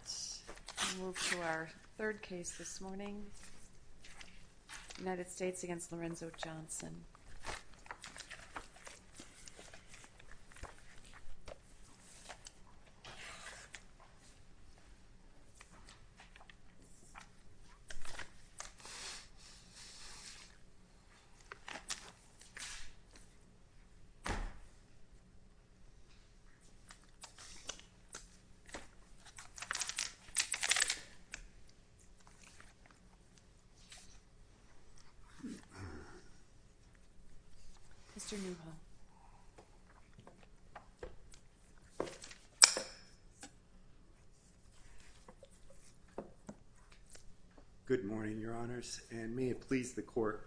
Let's move to our third case this morning, United States v. Lorenzo Johnson. Good morning, Your Honors, and may it please the Court,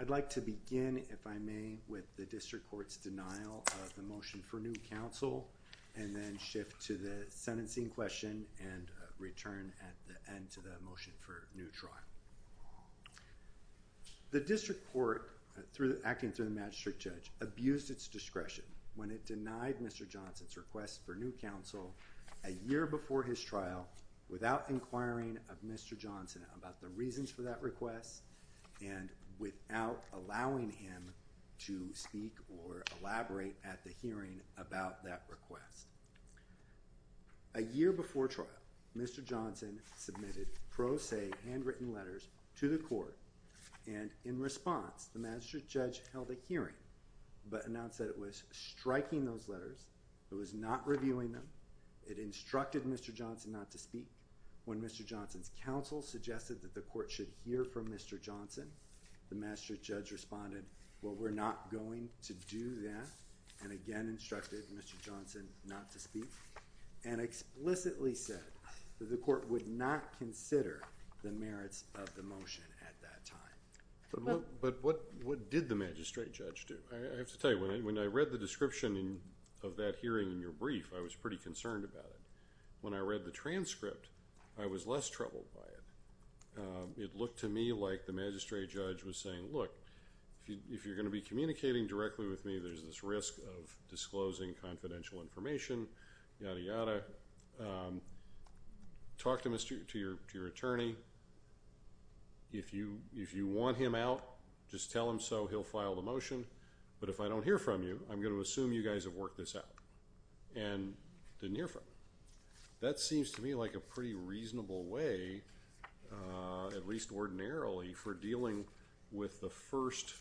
I'd like to begin, if I may, with the District Court's denial of the motion for new counsel, and then shift to the sentencing question and return at the end to the motion for new trial. The District Court, acting through the Magistrate Judge, abused its discretion when it denied Mr. Johnson's request for new counsel a year before his trial, without inquiring of Mr. Johnson about the reasons for that request, and without allowing him to speak or elaborate at the hearing about that request. A year before trial, Mr. Johnson submitted pro se, handwritten letters to the Court, and in response, the Magistrate Judge held a hearing, but announced that it was striking those letters, it was not reviewing them, it instructed Mr. Johnson not to speak. When Mr. Johnson's counsel suggested that the Court should hear from Mr. Johnson, the Magistrate Judge responded, well, we're not going to do that, and again instructed Mr. Johnson not to speak, and explicitly said that the Court would not consider the merits of the motion at that time. But what did the Magistrate Judge do? I have to tell you, when I read the description of that hearing in your brief, I was pretty concerned about it. When I read the transcript, I was less troubled by it. It looked to me like the Magistrate Judge was saying, look, if you're going to be communicating directly with me, there's this risk of disclosing confidential information, yada yada. Talk to your attorney. If you want him out, just tell him so, he'll file the motion, but if I don't hear from you, I'm going to assume you guys have worked this out, and didn't hear from him. That seems to me like a pretty reasonable way, at least ordinarily, for dealing with the first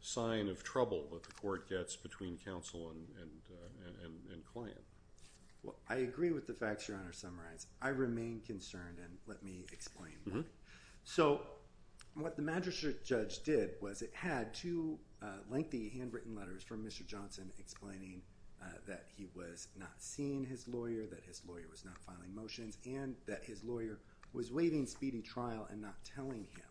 sign of trouble that the Court gets between counsel and client. I agree with the facts Your Honor summarized. I remain concerned, and let me explain that. So what the Magistrate Judge did was it had two lengthy handwritten letters from Mr. Johnson explaining that he was not seeing his lawyer, that his lawyer was not filing motions, and that his lawyer was waiving speedy trial and not telling him.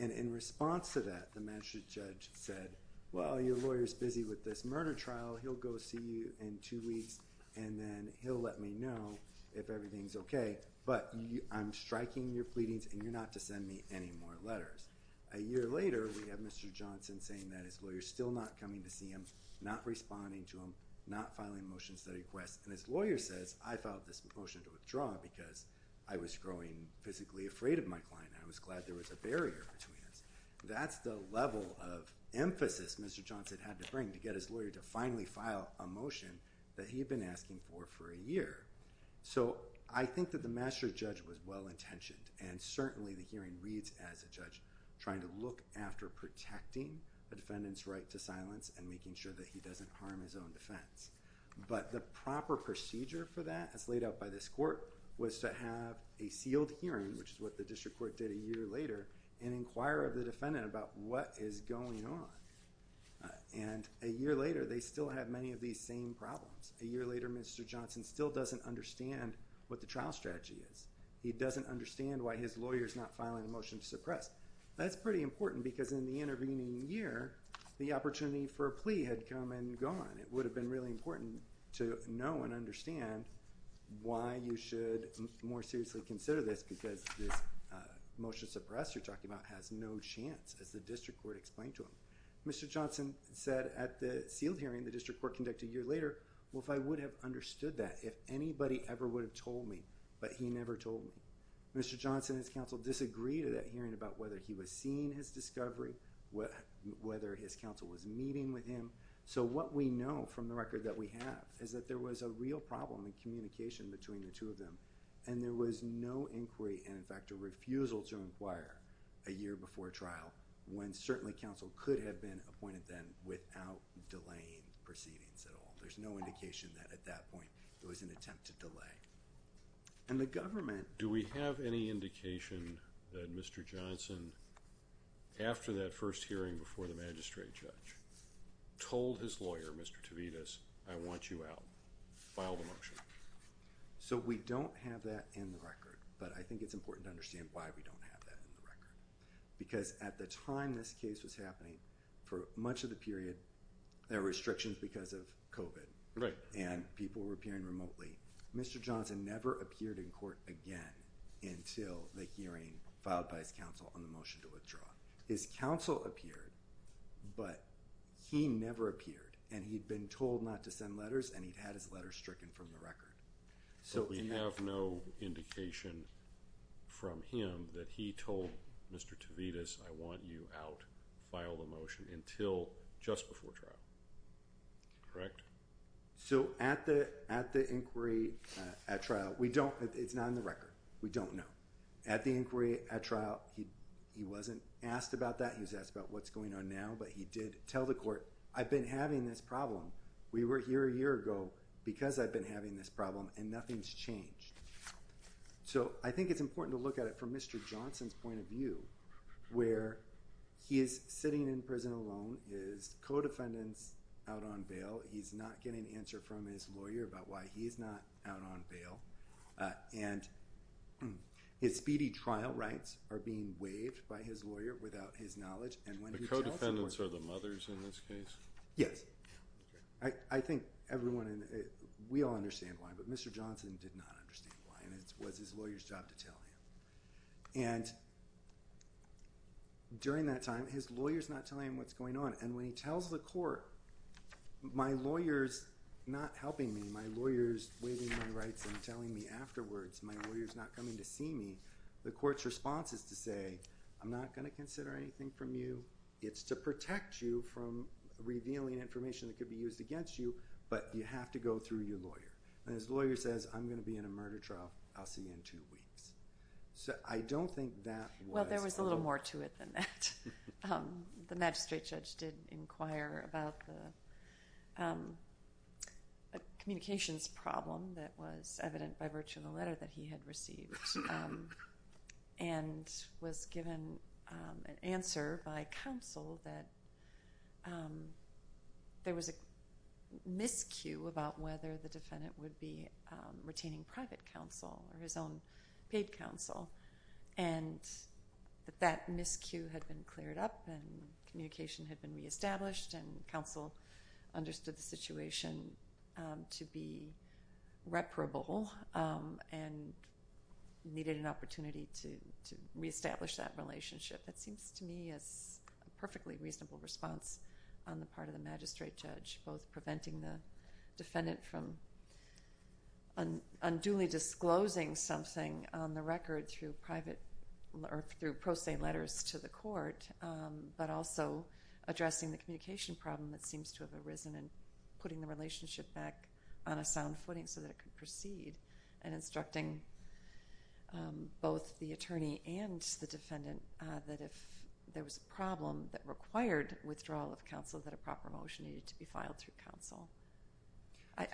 And in response to that, the Magistrate Judge said, well, your lawyer's busy with this murder trial, he'll go see you in two weeks, and then he'll let me know if everything's okay, but I'm striking your pleadings, and you're not to send me any more letters. A year later, we have Mr. Johnson saying that his lawyer's still not coming to see him, not responding to him, not filing motions that he requests, and his lawyer says, I filed this motion to withdraw because I was growing physically afraid of my client, and I was worried that there was a barrier between us. That's the level of emphasis Mr. Johnson had to bring to get his lawyer to finally file a motion that he had been asking for for a year. So I think that the Magistrate Judge was well intentioned, and certainly the hearing reads as a judge trying to look after protecting a defendant's right to silence and making sure that he doesn't harm his own defense. But the proper procedure for that, as laid out by this court, was to have a sealed hearing, which is what the district court did a year later, and inquire of the defendant about what is going on. And a year later, they still have many of these same problems. A year later, Mr. Johnson still doesn't understand what the trial strategy is. He doesn't understand why his lawyer's not filing a motion to suppress. That's pretty important, because in the intervening year, the opportunity for a plea had come and gone. It would have been really important to know and understand why you should more seriously consider this, because this motion to suppress you're talking about has no chance, as the district court explained to him. Mr. Johnson said at the sealed hearing the district court conducted a year later, well if I would have understood that, if anybody ever would have told me, but he never told me. Mr. Johnson and his counsel disagreed at that hearing about whether he was seeing his discovery, whether his counsel was meeting with him. So what we know from the record that we have is that there was a real problem in communication between the two of them, and there was no inquiry, and in fact a refusal to inquire a year before trial, when certainly counsel could have been appointed then without delaying proceedings at all. There's no indication that at that point there was an attempt to delay. And the government- Do we have any indication that Mr. Johnson, after that first hearing before the magistrate judge, told his lawyer, Mr. Tavides, I want you out, filed a motion? So we don't have that in the record, but I think it's important to understand why we don't have that in the record. Because at the time this case was happening, for much of the period, there were restrictions because of COVID. Right. And people were appearing remotely. Mr. Johnson never appeared in court again until the hearing filed by his counsel on the motion to withdraw. His counsel appeared, but he never appeared. And he'd been told not to send letters, and he'd had his letters stricken from the record. So we have no indication from him that he told Mr. Tavides, I want you out, filed a motion, until just before trial, correct? So at the inquiry, at trial, we don't- it's not in the record. We don't know. At the inquiry, at trial, he wasn't asked about that. He was asked about what's going on now, but he did tell the court, I've been having this problem. We were here a year ago because I've been having this problem, and nothing's changed. So I think it's important to look at it from Mr. Johnson's point of view, where he is sitting in prison alone, his co-defendant's out on bail. He's not getting an answer from his lawyer about why he's not out on bail. And his speedy trial rights are being waived by his lawyer without his knowledge, and when he tells the court- The co-defendants are the mothers in this case? Yes. I think everyone in- we all understand why, but Mr. Johnson did not understand why, and it was his lawyer's job to tell him. And during that time, his lawyer's not telling him what's going on, and when he tells the me afterwards, my lawyer's not coming to see me, the court's response is to say, I'm not going to consider anything from you. It's to protect you from revealing information that could be used against you, but you have to go through your lawyer. And his lawyer says, I'm going to be in a murder trial, I'll see you in two weeks. So I don't think that was- Well, there was a little more to it than that. The magistrate judge did inquire about the communications problem that was evident by virtue of the letter that he had received, and was given an answer by counsel that there was a miscue about whether the defendant would be retaining private counsel or his own paid counsel, and that that miscue had been cleared up and communication had been re-established and counsel understood the situation to be reparable and needed an opportunity to re-establish that relationship. That seems to me as a perfectly reasonable response on the part of the magistrate judge, both preventing the defendant from unduly disclosing something on the record through pro se letters to the court, but also addressing the communication problem that seems to have arisen and putting the relationship back on a sound footing so that it could proceed, and instructing both the attorney and the defendant that if there was a problem that would be resolved through counsel.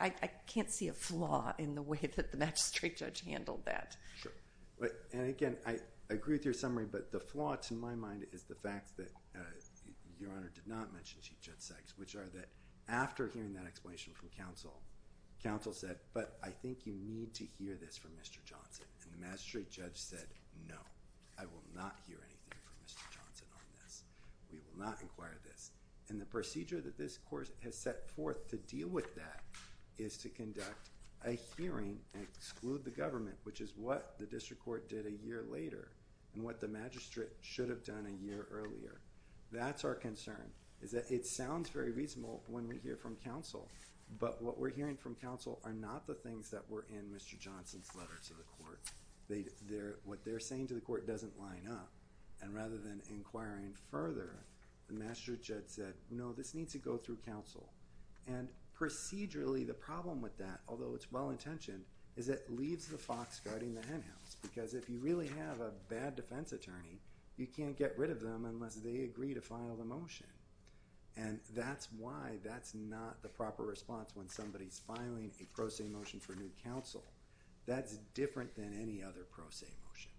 I can't see a flaw in the way that the magistrate judge handled that. Sure. And again, I agree with your summary, but the flaw to my mind is the fact that Your Honor did not mention Chief Judge Sykes, which are that after hearing that explanation from counsel, counsel said, but I think you need to hear this from Mr. Johnson, and the magistrate judge said, no, I will not hear anything from Mr. Johnson on this, we will not inquire this. And the procedure that this court has set forth to deal with that is to conduct a hearing and exclude the government, which is what the district court did a year later, and what the magistrate should have done a year earlier. That's our concern, is that it sounds very reasonable when we hear from counsel, but what we're hearing from counsel are not the things that were in Mr. Johnson's letter to the court. What they're saying to the court doesn't line up, and rather than inquiring further, the magistrate said, no, this needs to go through counsel. And procedurally, the problem with that, although it's well-intentioned, is that it leaves the fox guarding the henhouse, because if you really have a bad defense attorney, you can't get rid of them unless they agree to file the motion. And that's why that's not the proper response when somebody's filing a pro se motion for new counsel. That's different than any other pro se motion,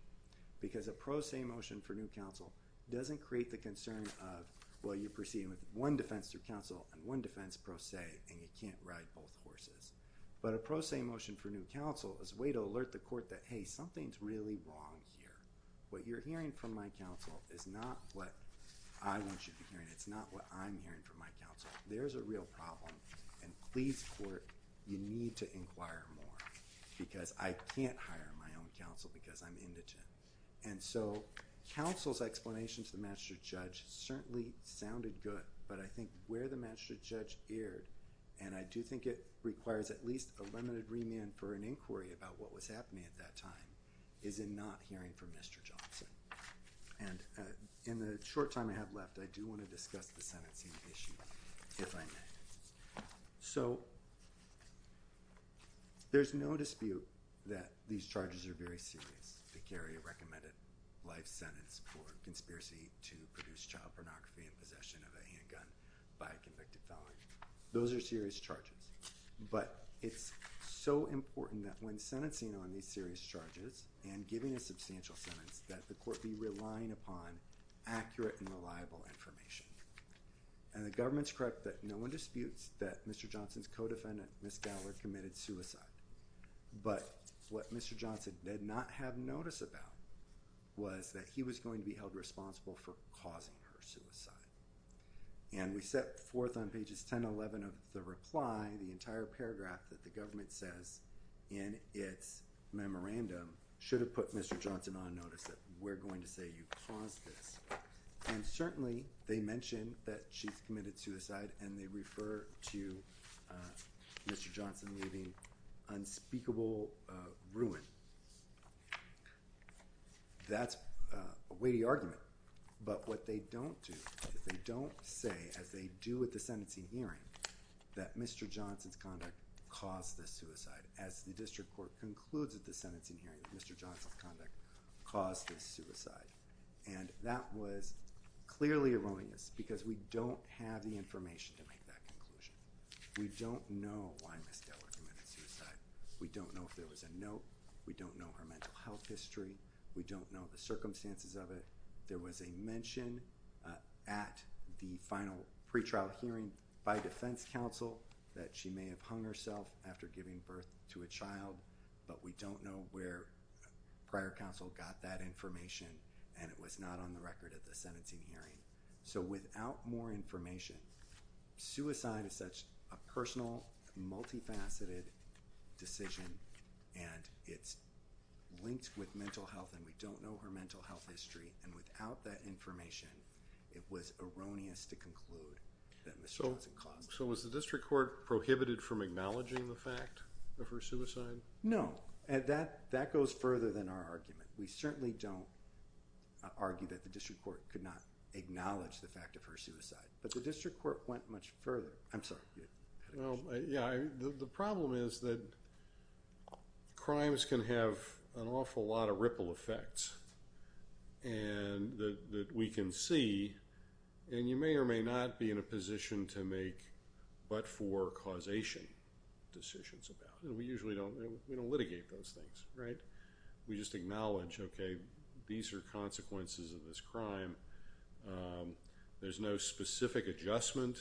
because a pro se motion for new counsel doesn't create the concern of, well, you're proceeding with one defense through counsel and one defense pro se, and you can't ride both horses. But a pro se motion for new counsel is a way to alert the court that, hey, something's really wrong here. What you're hearing from my counsel is not what I want you to be hearing. It's not what I'm hearing from my counsel. There's a real problem, and please, court, you need to inquire more, because I can't hire my own counsel, because I'm indigent. And so counsel's explanation to the magistrate judge certainly sounded good, but I think where the magistrate judge erred, and I do think it requires at least a limited remand for an inquiry about what was happening at that time, is in not hearing from Mr. Johnson. And in the short time I have left, I do want to discuss the sentencing issue, if I may. So there's no dispute that these charges are very serious, to carry a recommended life sentence for conspiracy to produce child pornography and possession of a handgun by a convicted felon. Those are serious charges, but it's so important that when sentencing on these serious charges and giving a substantial sentence, that the court be relying upon accurate and reliable information. And the government's correct that no one disputes that Mr. Johnson's co-defendant, Ms. Gallard, committed suicide. But what Mr. Johnson did not have notice about was that he was going to be held responsible for causing her suicide. And we set forth on pages 10 and 11 of the reply, the entire paragraph that the government says in its memorandum, should have put Mr. Johnson on notice that we're going to say you caused this. And certainly, they mention that she's committed suicide, and they refer to Mr. Johnson leaving unspeakable ruin. That's a weighty argument. But what they don't do, is they don't say, as they do at the sentencing hearing, that Mr. Johnson's conduct caused this suicide, as the district court concludes at the sentencing hearing that Mr. Johnson's conduct caused this suicide. And that was clearly erroneous, because we don't have the information to make that conclusion. We don't know why Ms. Gallard committed suicide. We don't know if there was a note. We don't know her mental health history. We don't know the circumstances of it. There was a mention at the final pretrial hearing by defense counsel that she may have hung herself after giving birth to a child, but we don't know where prior counsel got that information, and it was not on the record at the sentencing hearing. So without more information, suicide is such a personal, multifaceted decision, and it's linked with mental health, and we don't know her mental health history. And without that information, it was erroneous to conclude that Mr. Johnson caused it. So was the district court prohibited from acknowledging the fact of her suicide? No. And that goes further than our argument. We certainly don't argue that the district court could not acknowledge the fact of her suicide. But the district court went much further. I'm sorry. Well, yeah, the problem is that crimes can have an awful lot of ripple effects, and that we can see, and you may or may not be in a position to make but-for-causation decisions about it, and we usually don't litigate those things, right? We just acknowledge, okay, these are consequences of this crime. There's no specific adjustment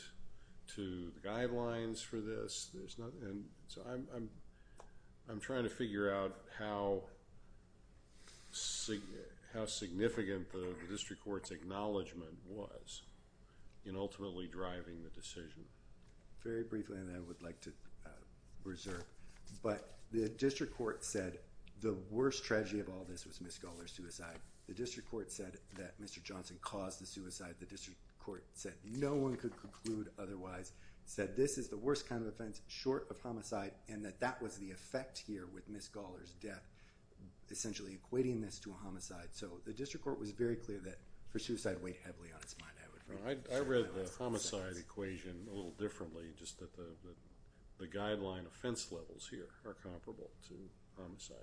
to the guidelines for this. So I'm trying to figure out how significant the district court's acknowledgement was in ultimately driving the decision. Very briefly, and then I would like to reserve. But the district court said the worst tragedy of all this was Ms. Gawler's suicide. The district court said that Mr. Johnson caused the suicide. The district court said no one could conclude otherwise, said this is the worst kind of offense, short of homicide, and that that was the effect here with Ms. Gawler's death, essentially equating this to a homicide. So the district court was very clear that for suicide to weigh heavily on its mind. I read the homicide equation a little differently, just that the guideline offense levels here are comparable to homicide.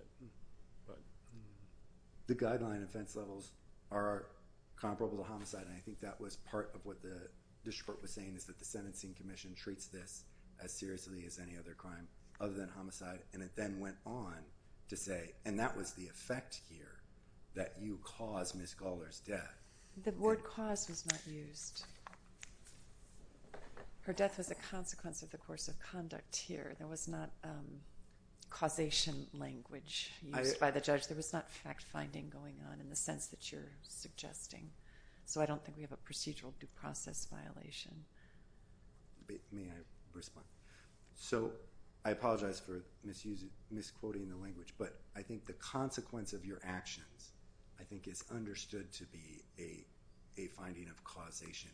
The guideline offense levels are comparable to homicide, and I think that was part of what the district court was saying, is that the sentencing commission treats this as seriously as any other crime other than homicide, and it then went on to say, and that was the effect here, that you caused Ms. Gawler's death. The word cause was not used. Her death was a consequence of the course of conduct here. There was not causation language used by the judge. There was not fact-finding going on in the sense that you're suggesting. So I don't think we have a procedural due process violation. May I respond? So I apologize for misquoting the language, but I think the consequence of your actions I think is understood to be a finding of causation,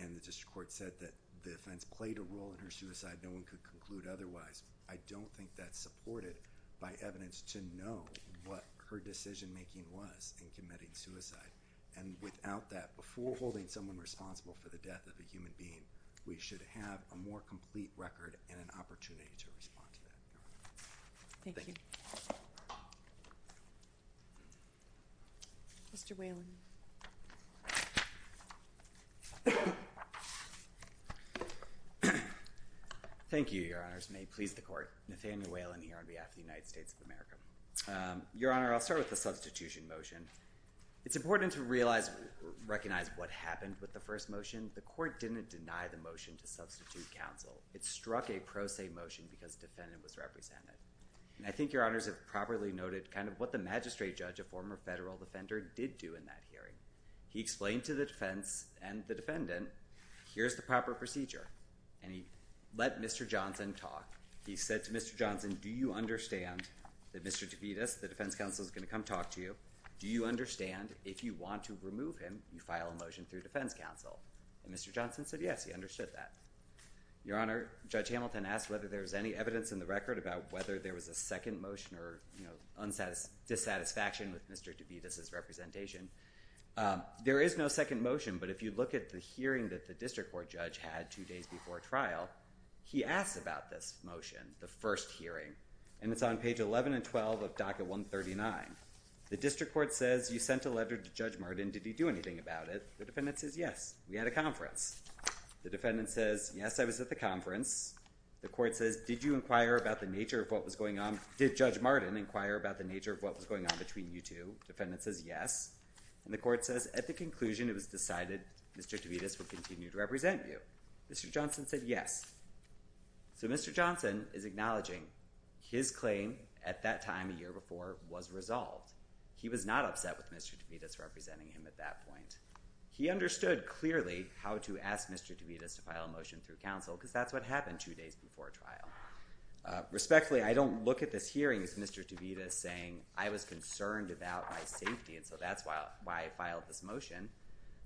and the district court said that the offense played a role in her suicide, no one could conclude otherwise. I don't think that's supported by evidence to know what her decision-making was in committing suicide, and without that, before holding someone responsible for the death of a human being, we should have a more complete record and an opportunity to respond to that. Thank you. Mr. Whelan. Thank you, Your Honors. May it please the court. Nathaniel Whelan here on behalf of the United States of America. Your Honor, I'll start with the substitution motion. It's important to realize, recognize what happened with the first motion. The court didn't deny the motion to substitute counsel. It struck a pro se motion because the defendant was represented. And I think Your Honors have properly noted kind of what the magistrate judge, a former federal defender, did do in that hearing. He explained to the defense and the defendant, here's the proper procedure. And he let Mr. Johnson talk. He said to Mr. Johnson, do you understand that Mr. DeVita, the defense counsel, is going to come talk to you? Do you understand if you want to remove him, you file a motion through defense counsel? And Mr. Johnson said yes, he understood that. Your Honor, Judge Hamilton asked whether there was any evidence in the record about whether there was a second motion or dissatisfaction with Mr. DeVita's representation. There is no second motion, but if you look at the hearing that the district court judge had two days before trial, he asked about this motion, the first hearing. And it's on page 11 and 12 of docket 139. The district court says, you sent a letter to Judge Martin. Did he do anything about it? The defendant says, yes, we had a conference. The defendant says, yes, I was at the conference. The court says, did you inquire about the nature of what was going on? Did Judge Martin inquire about the nature of what was going on between you two? The defendant says, yes. And the court says, at the conclusion, it was decided Mr. DeVita would continue to represent you. Mr. Johnson said yes. So Mr. Johnson is acknowledging his claim at that time a year before was resolved. He was not upset with Mr. DeVita's representing him at that point. He understood clearly how to ask Mr. DeVita to file a motion through counsel because that's what happened two days before trial. Respectfully, I don't look at this hearing as Mr. DeVita saying, I was concerned about my safety and so that's why I filed this motion.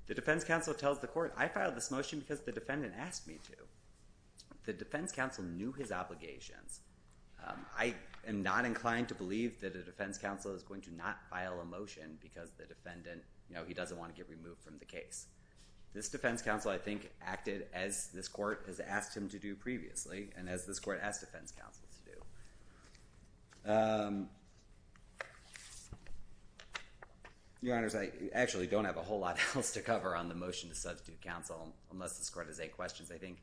The defense counsel tells the court, I filed this motion because the defendant asked me to. The defense counsel knew his obligations. I am not inclined to believe that a defense counsel is going to not file a motion because the defendant, you know, he doesn't want to get removed from the case. This defense counsel, I think, acted as this court has asked him to do previously and as this court asked defense counsel to do. Your Honors, I actually don't have a whole lot else to cover on the motion to substitute counsel unless this court has any questions, I think.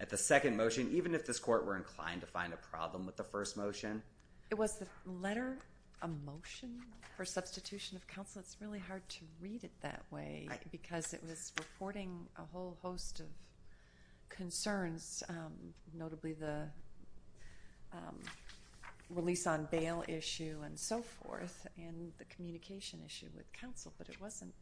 At the second motion, even if this court were inclined to find a problem with the first motion. It was the letter, a motion for substitution of counsel. It's really hard to read it that way because it was reporting a whole host of concerns, notably the release on bail issue and so forth and the communication issue with counsel. But it wasn't,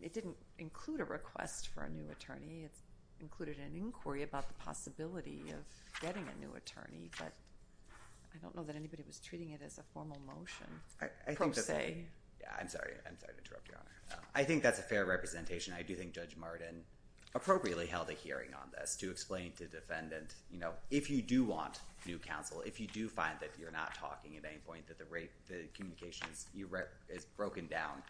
it didn't include a request for a new attorney. It included an inquiry about the possibility of getting a new attorney. But I don't know that anybody was treating it as a formal motion, per se. I'm sorry, I'm sorry to interrupt, Your Honor. I think that's a fair representation. I do think Judge Martin appropriately held a hearing on this to explain to defendant, you know, if you do want new counsel, if you do find that you're not talking at any point, that the communication is broken down,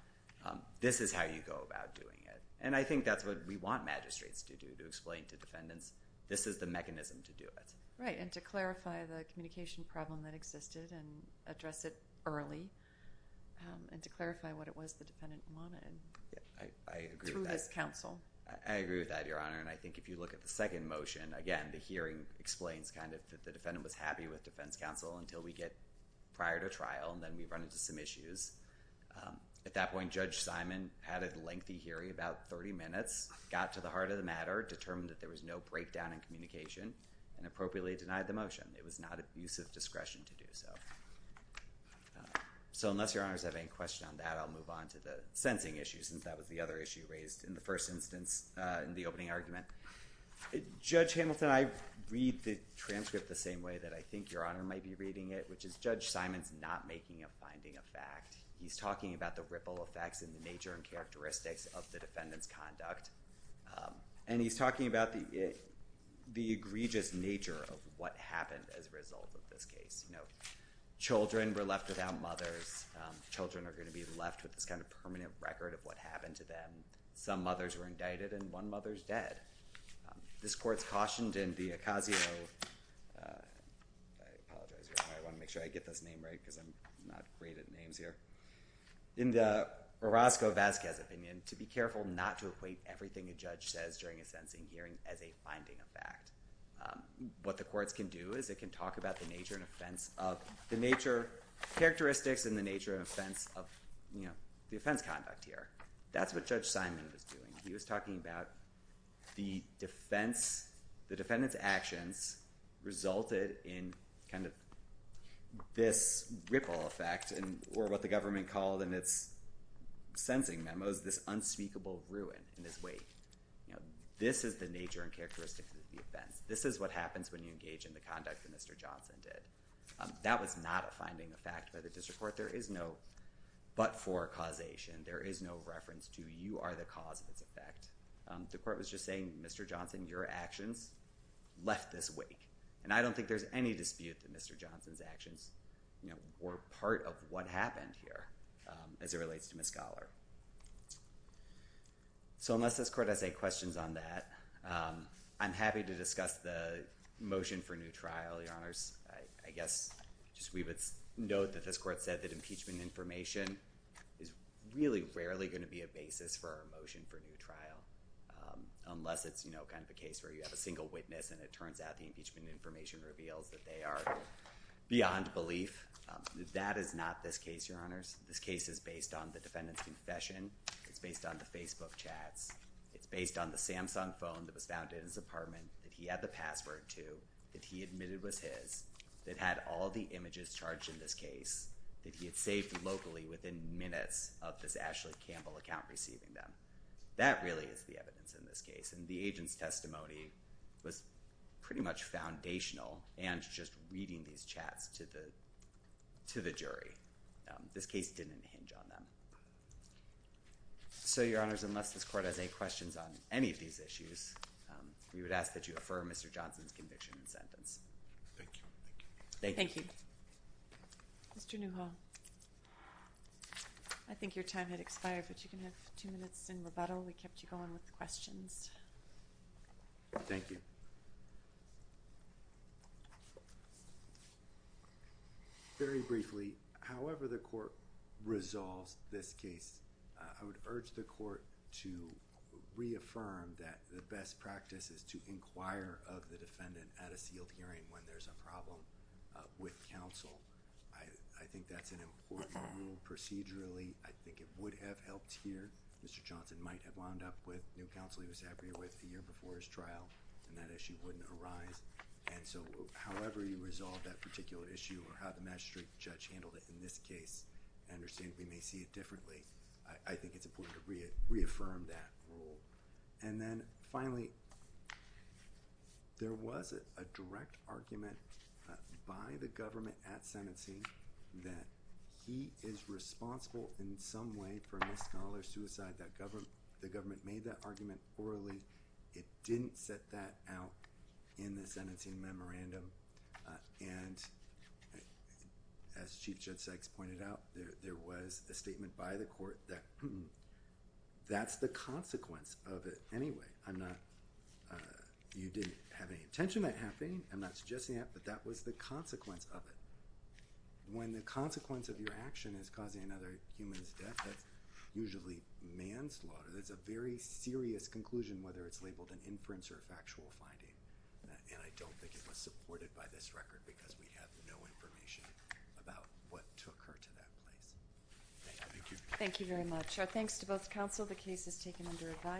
this is how you go about doing it. And I think that's what we want magistrates to do, to explain to defendants, this is the mechanism to do it. Right, and to clarify the communication problem that existed and address it early. And to clarify what it was the defendant wanted through this counsel. I agree with that, Your Honor. And I think if you look at the second motion, again, the hearing explains kind of that the defendant was happy with defense counsel until we get prior to trial and then we run into some issues. At that point, Judge Simon had a lengthy hearing, about 30 minutes, got to the heart of the matter, determined that there was no breakdown in communication and appropriately denied the motion. It was not abuse of discretion to do so. So unless Your Honors have any questions on that, I'll move on to the sensing issues, since that was the other issue raised in the first instance in the opening argument. Judge Hamilton, I read the transcript the same way that I think Your Honor might be reading it, which is Judge Simon's not making a finding of fact. He's talking about the ripple effects and the nature and characteristics of the defendant's conduct. And he's talking about the egregious nature of what happened as a result of this case. You know, children were left without mothers. Children are going to be left with this kind of permanent record of what happened to them. Some mothers were indicted and one mother's dead. This court's cautioned in the Ocasio – I apologize, Your Honor. I want to make sure I get this name right because I'm not great at names here. In the Orozco-Vazquez opinion, to be careful not to equate everything a judge says during a sentencing hearing as a finding of fact. What the courts can do is they can talk about the nature and offense of – the nature – characteristics and the nature and offense of, you know, the offense conduct here. That's what Judge Simon was doing. He was talking about the defense – the defendant's actions resulted in kind of this ripple effect or what the government called in its sentencing memos this unspeakable ruin in this wake. You know, this is the nature and characteristics of the offense. This is what happens when you engage in the conduct that Mr. Johnson did. That was not a finding of fact by the district court. There is no but for causation. There is no reference to you are the cause of its effect. The court was just saying, Mr. Johnson, your actions left this wake. And I don't think there's any dispute that Mr. Johnson's actions, you know, were part of what happened here as it relates to Ms. Scholar. So unless this court has any questions on that, I'm happy to discuss the motion for new trial, Your Honors. I guess just we would note that this court said that impeachment information is really rarely going to be a basis for a motion for new trial unless it's, you know, kind of a case where you have a single witness and it turns out the impeachment information reveals that they are beyond belief. That is not this case, Your Honors. This case is based on the defendant's confession. It's based on the Facebook chats. It's based on the Samsung phone that was found in his apartment that he had the password to, that he admitted was his, that had all the images charged in this case, that he had saved locally within minutes of this Ashley Campbell account receiving them. That really is the evidence in this case. And the agent's testimony was pretty much foundational and just reading these chats to the jury. This case didn't hinge on them. So, Your Honors, unless this court has any questions on any of these issues, we would ask that you affirm Mr. Johnson's conviction and sentence. Thank you. Thank you. Thank you. Mr. Newhall, I think your time had expired, but you can have two minutes in rebuttal. We kept you going with the questions. Thank you. Very briefly, however the court resolves this case, I would urge the court to reaffirm that the best practice is to inquire of the defendant at a sealed hearing when there's a problem with counsel. I think that's an important rule procedurally. I think it would have helped here. Mr. Johnson might have wound up with new counsel he was happier with a year before his trial, and that issue wouldn't arise. And so, however you resolve that particular issue or how the magistrate judge handled it in this case, I understand we may see it differently. I think it's important to reaffirm that rule. And then, finally, there was a direct argument by the government at sentencing that he is responsible in some way for misconduct or suicide. The government made that argument orally. It didn't set that out in the sentencing memorandum. And as Chief Judge Sykes pointed out, there was a statement by the court that that's the consequence of it anyway. You didn't have any intention of that happening. I'm not suggesting that, but that was the consequence of it. When the consequence of your action is causing another human's death, that's usually manslaughter. That's a very serious conclusion, whether it's labeled an inference or a factual finding. And I don't think it was supported by this record because we have no information about what took her to that place. Thank you. Thank you very much. Our thanks to both counsel. The case is taken under review.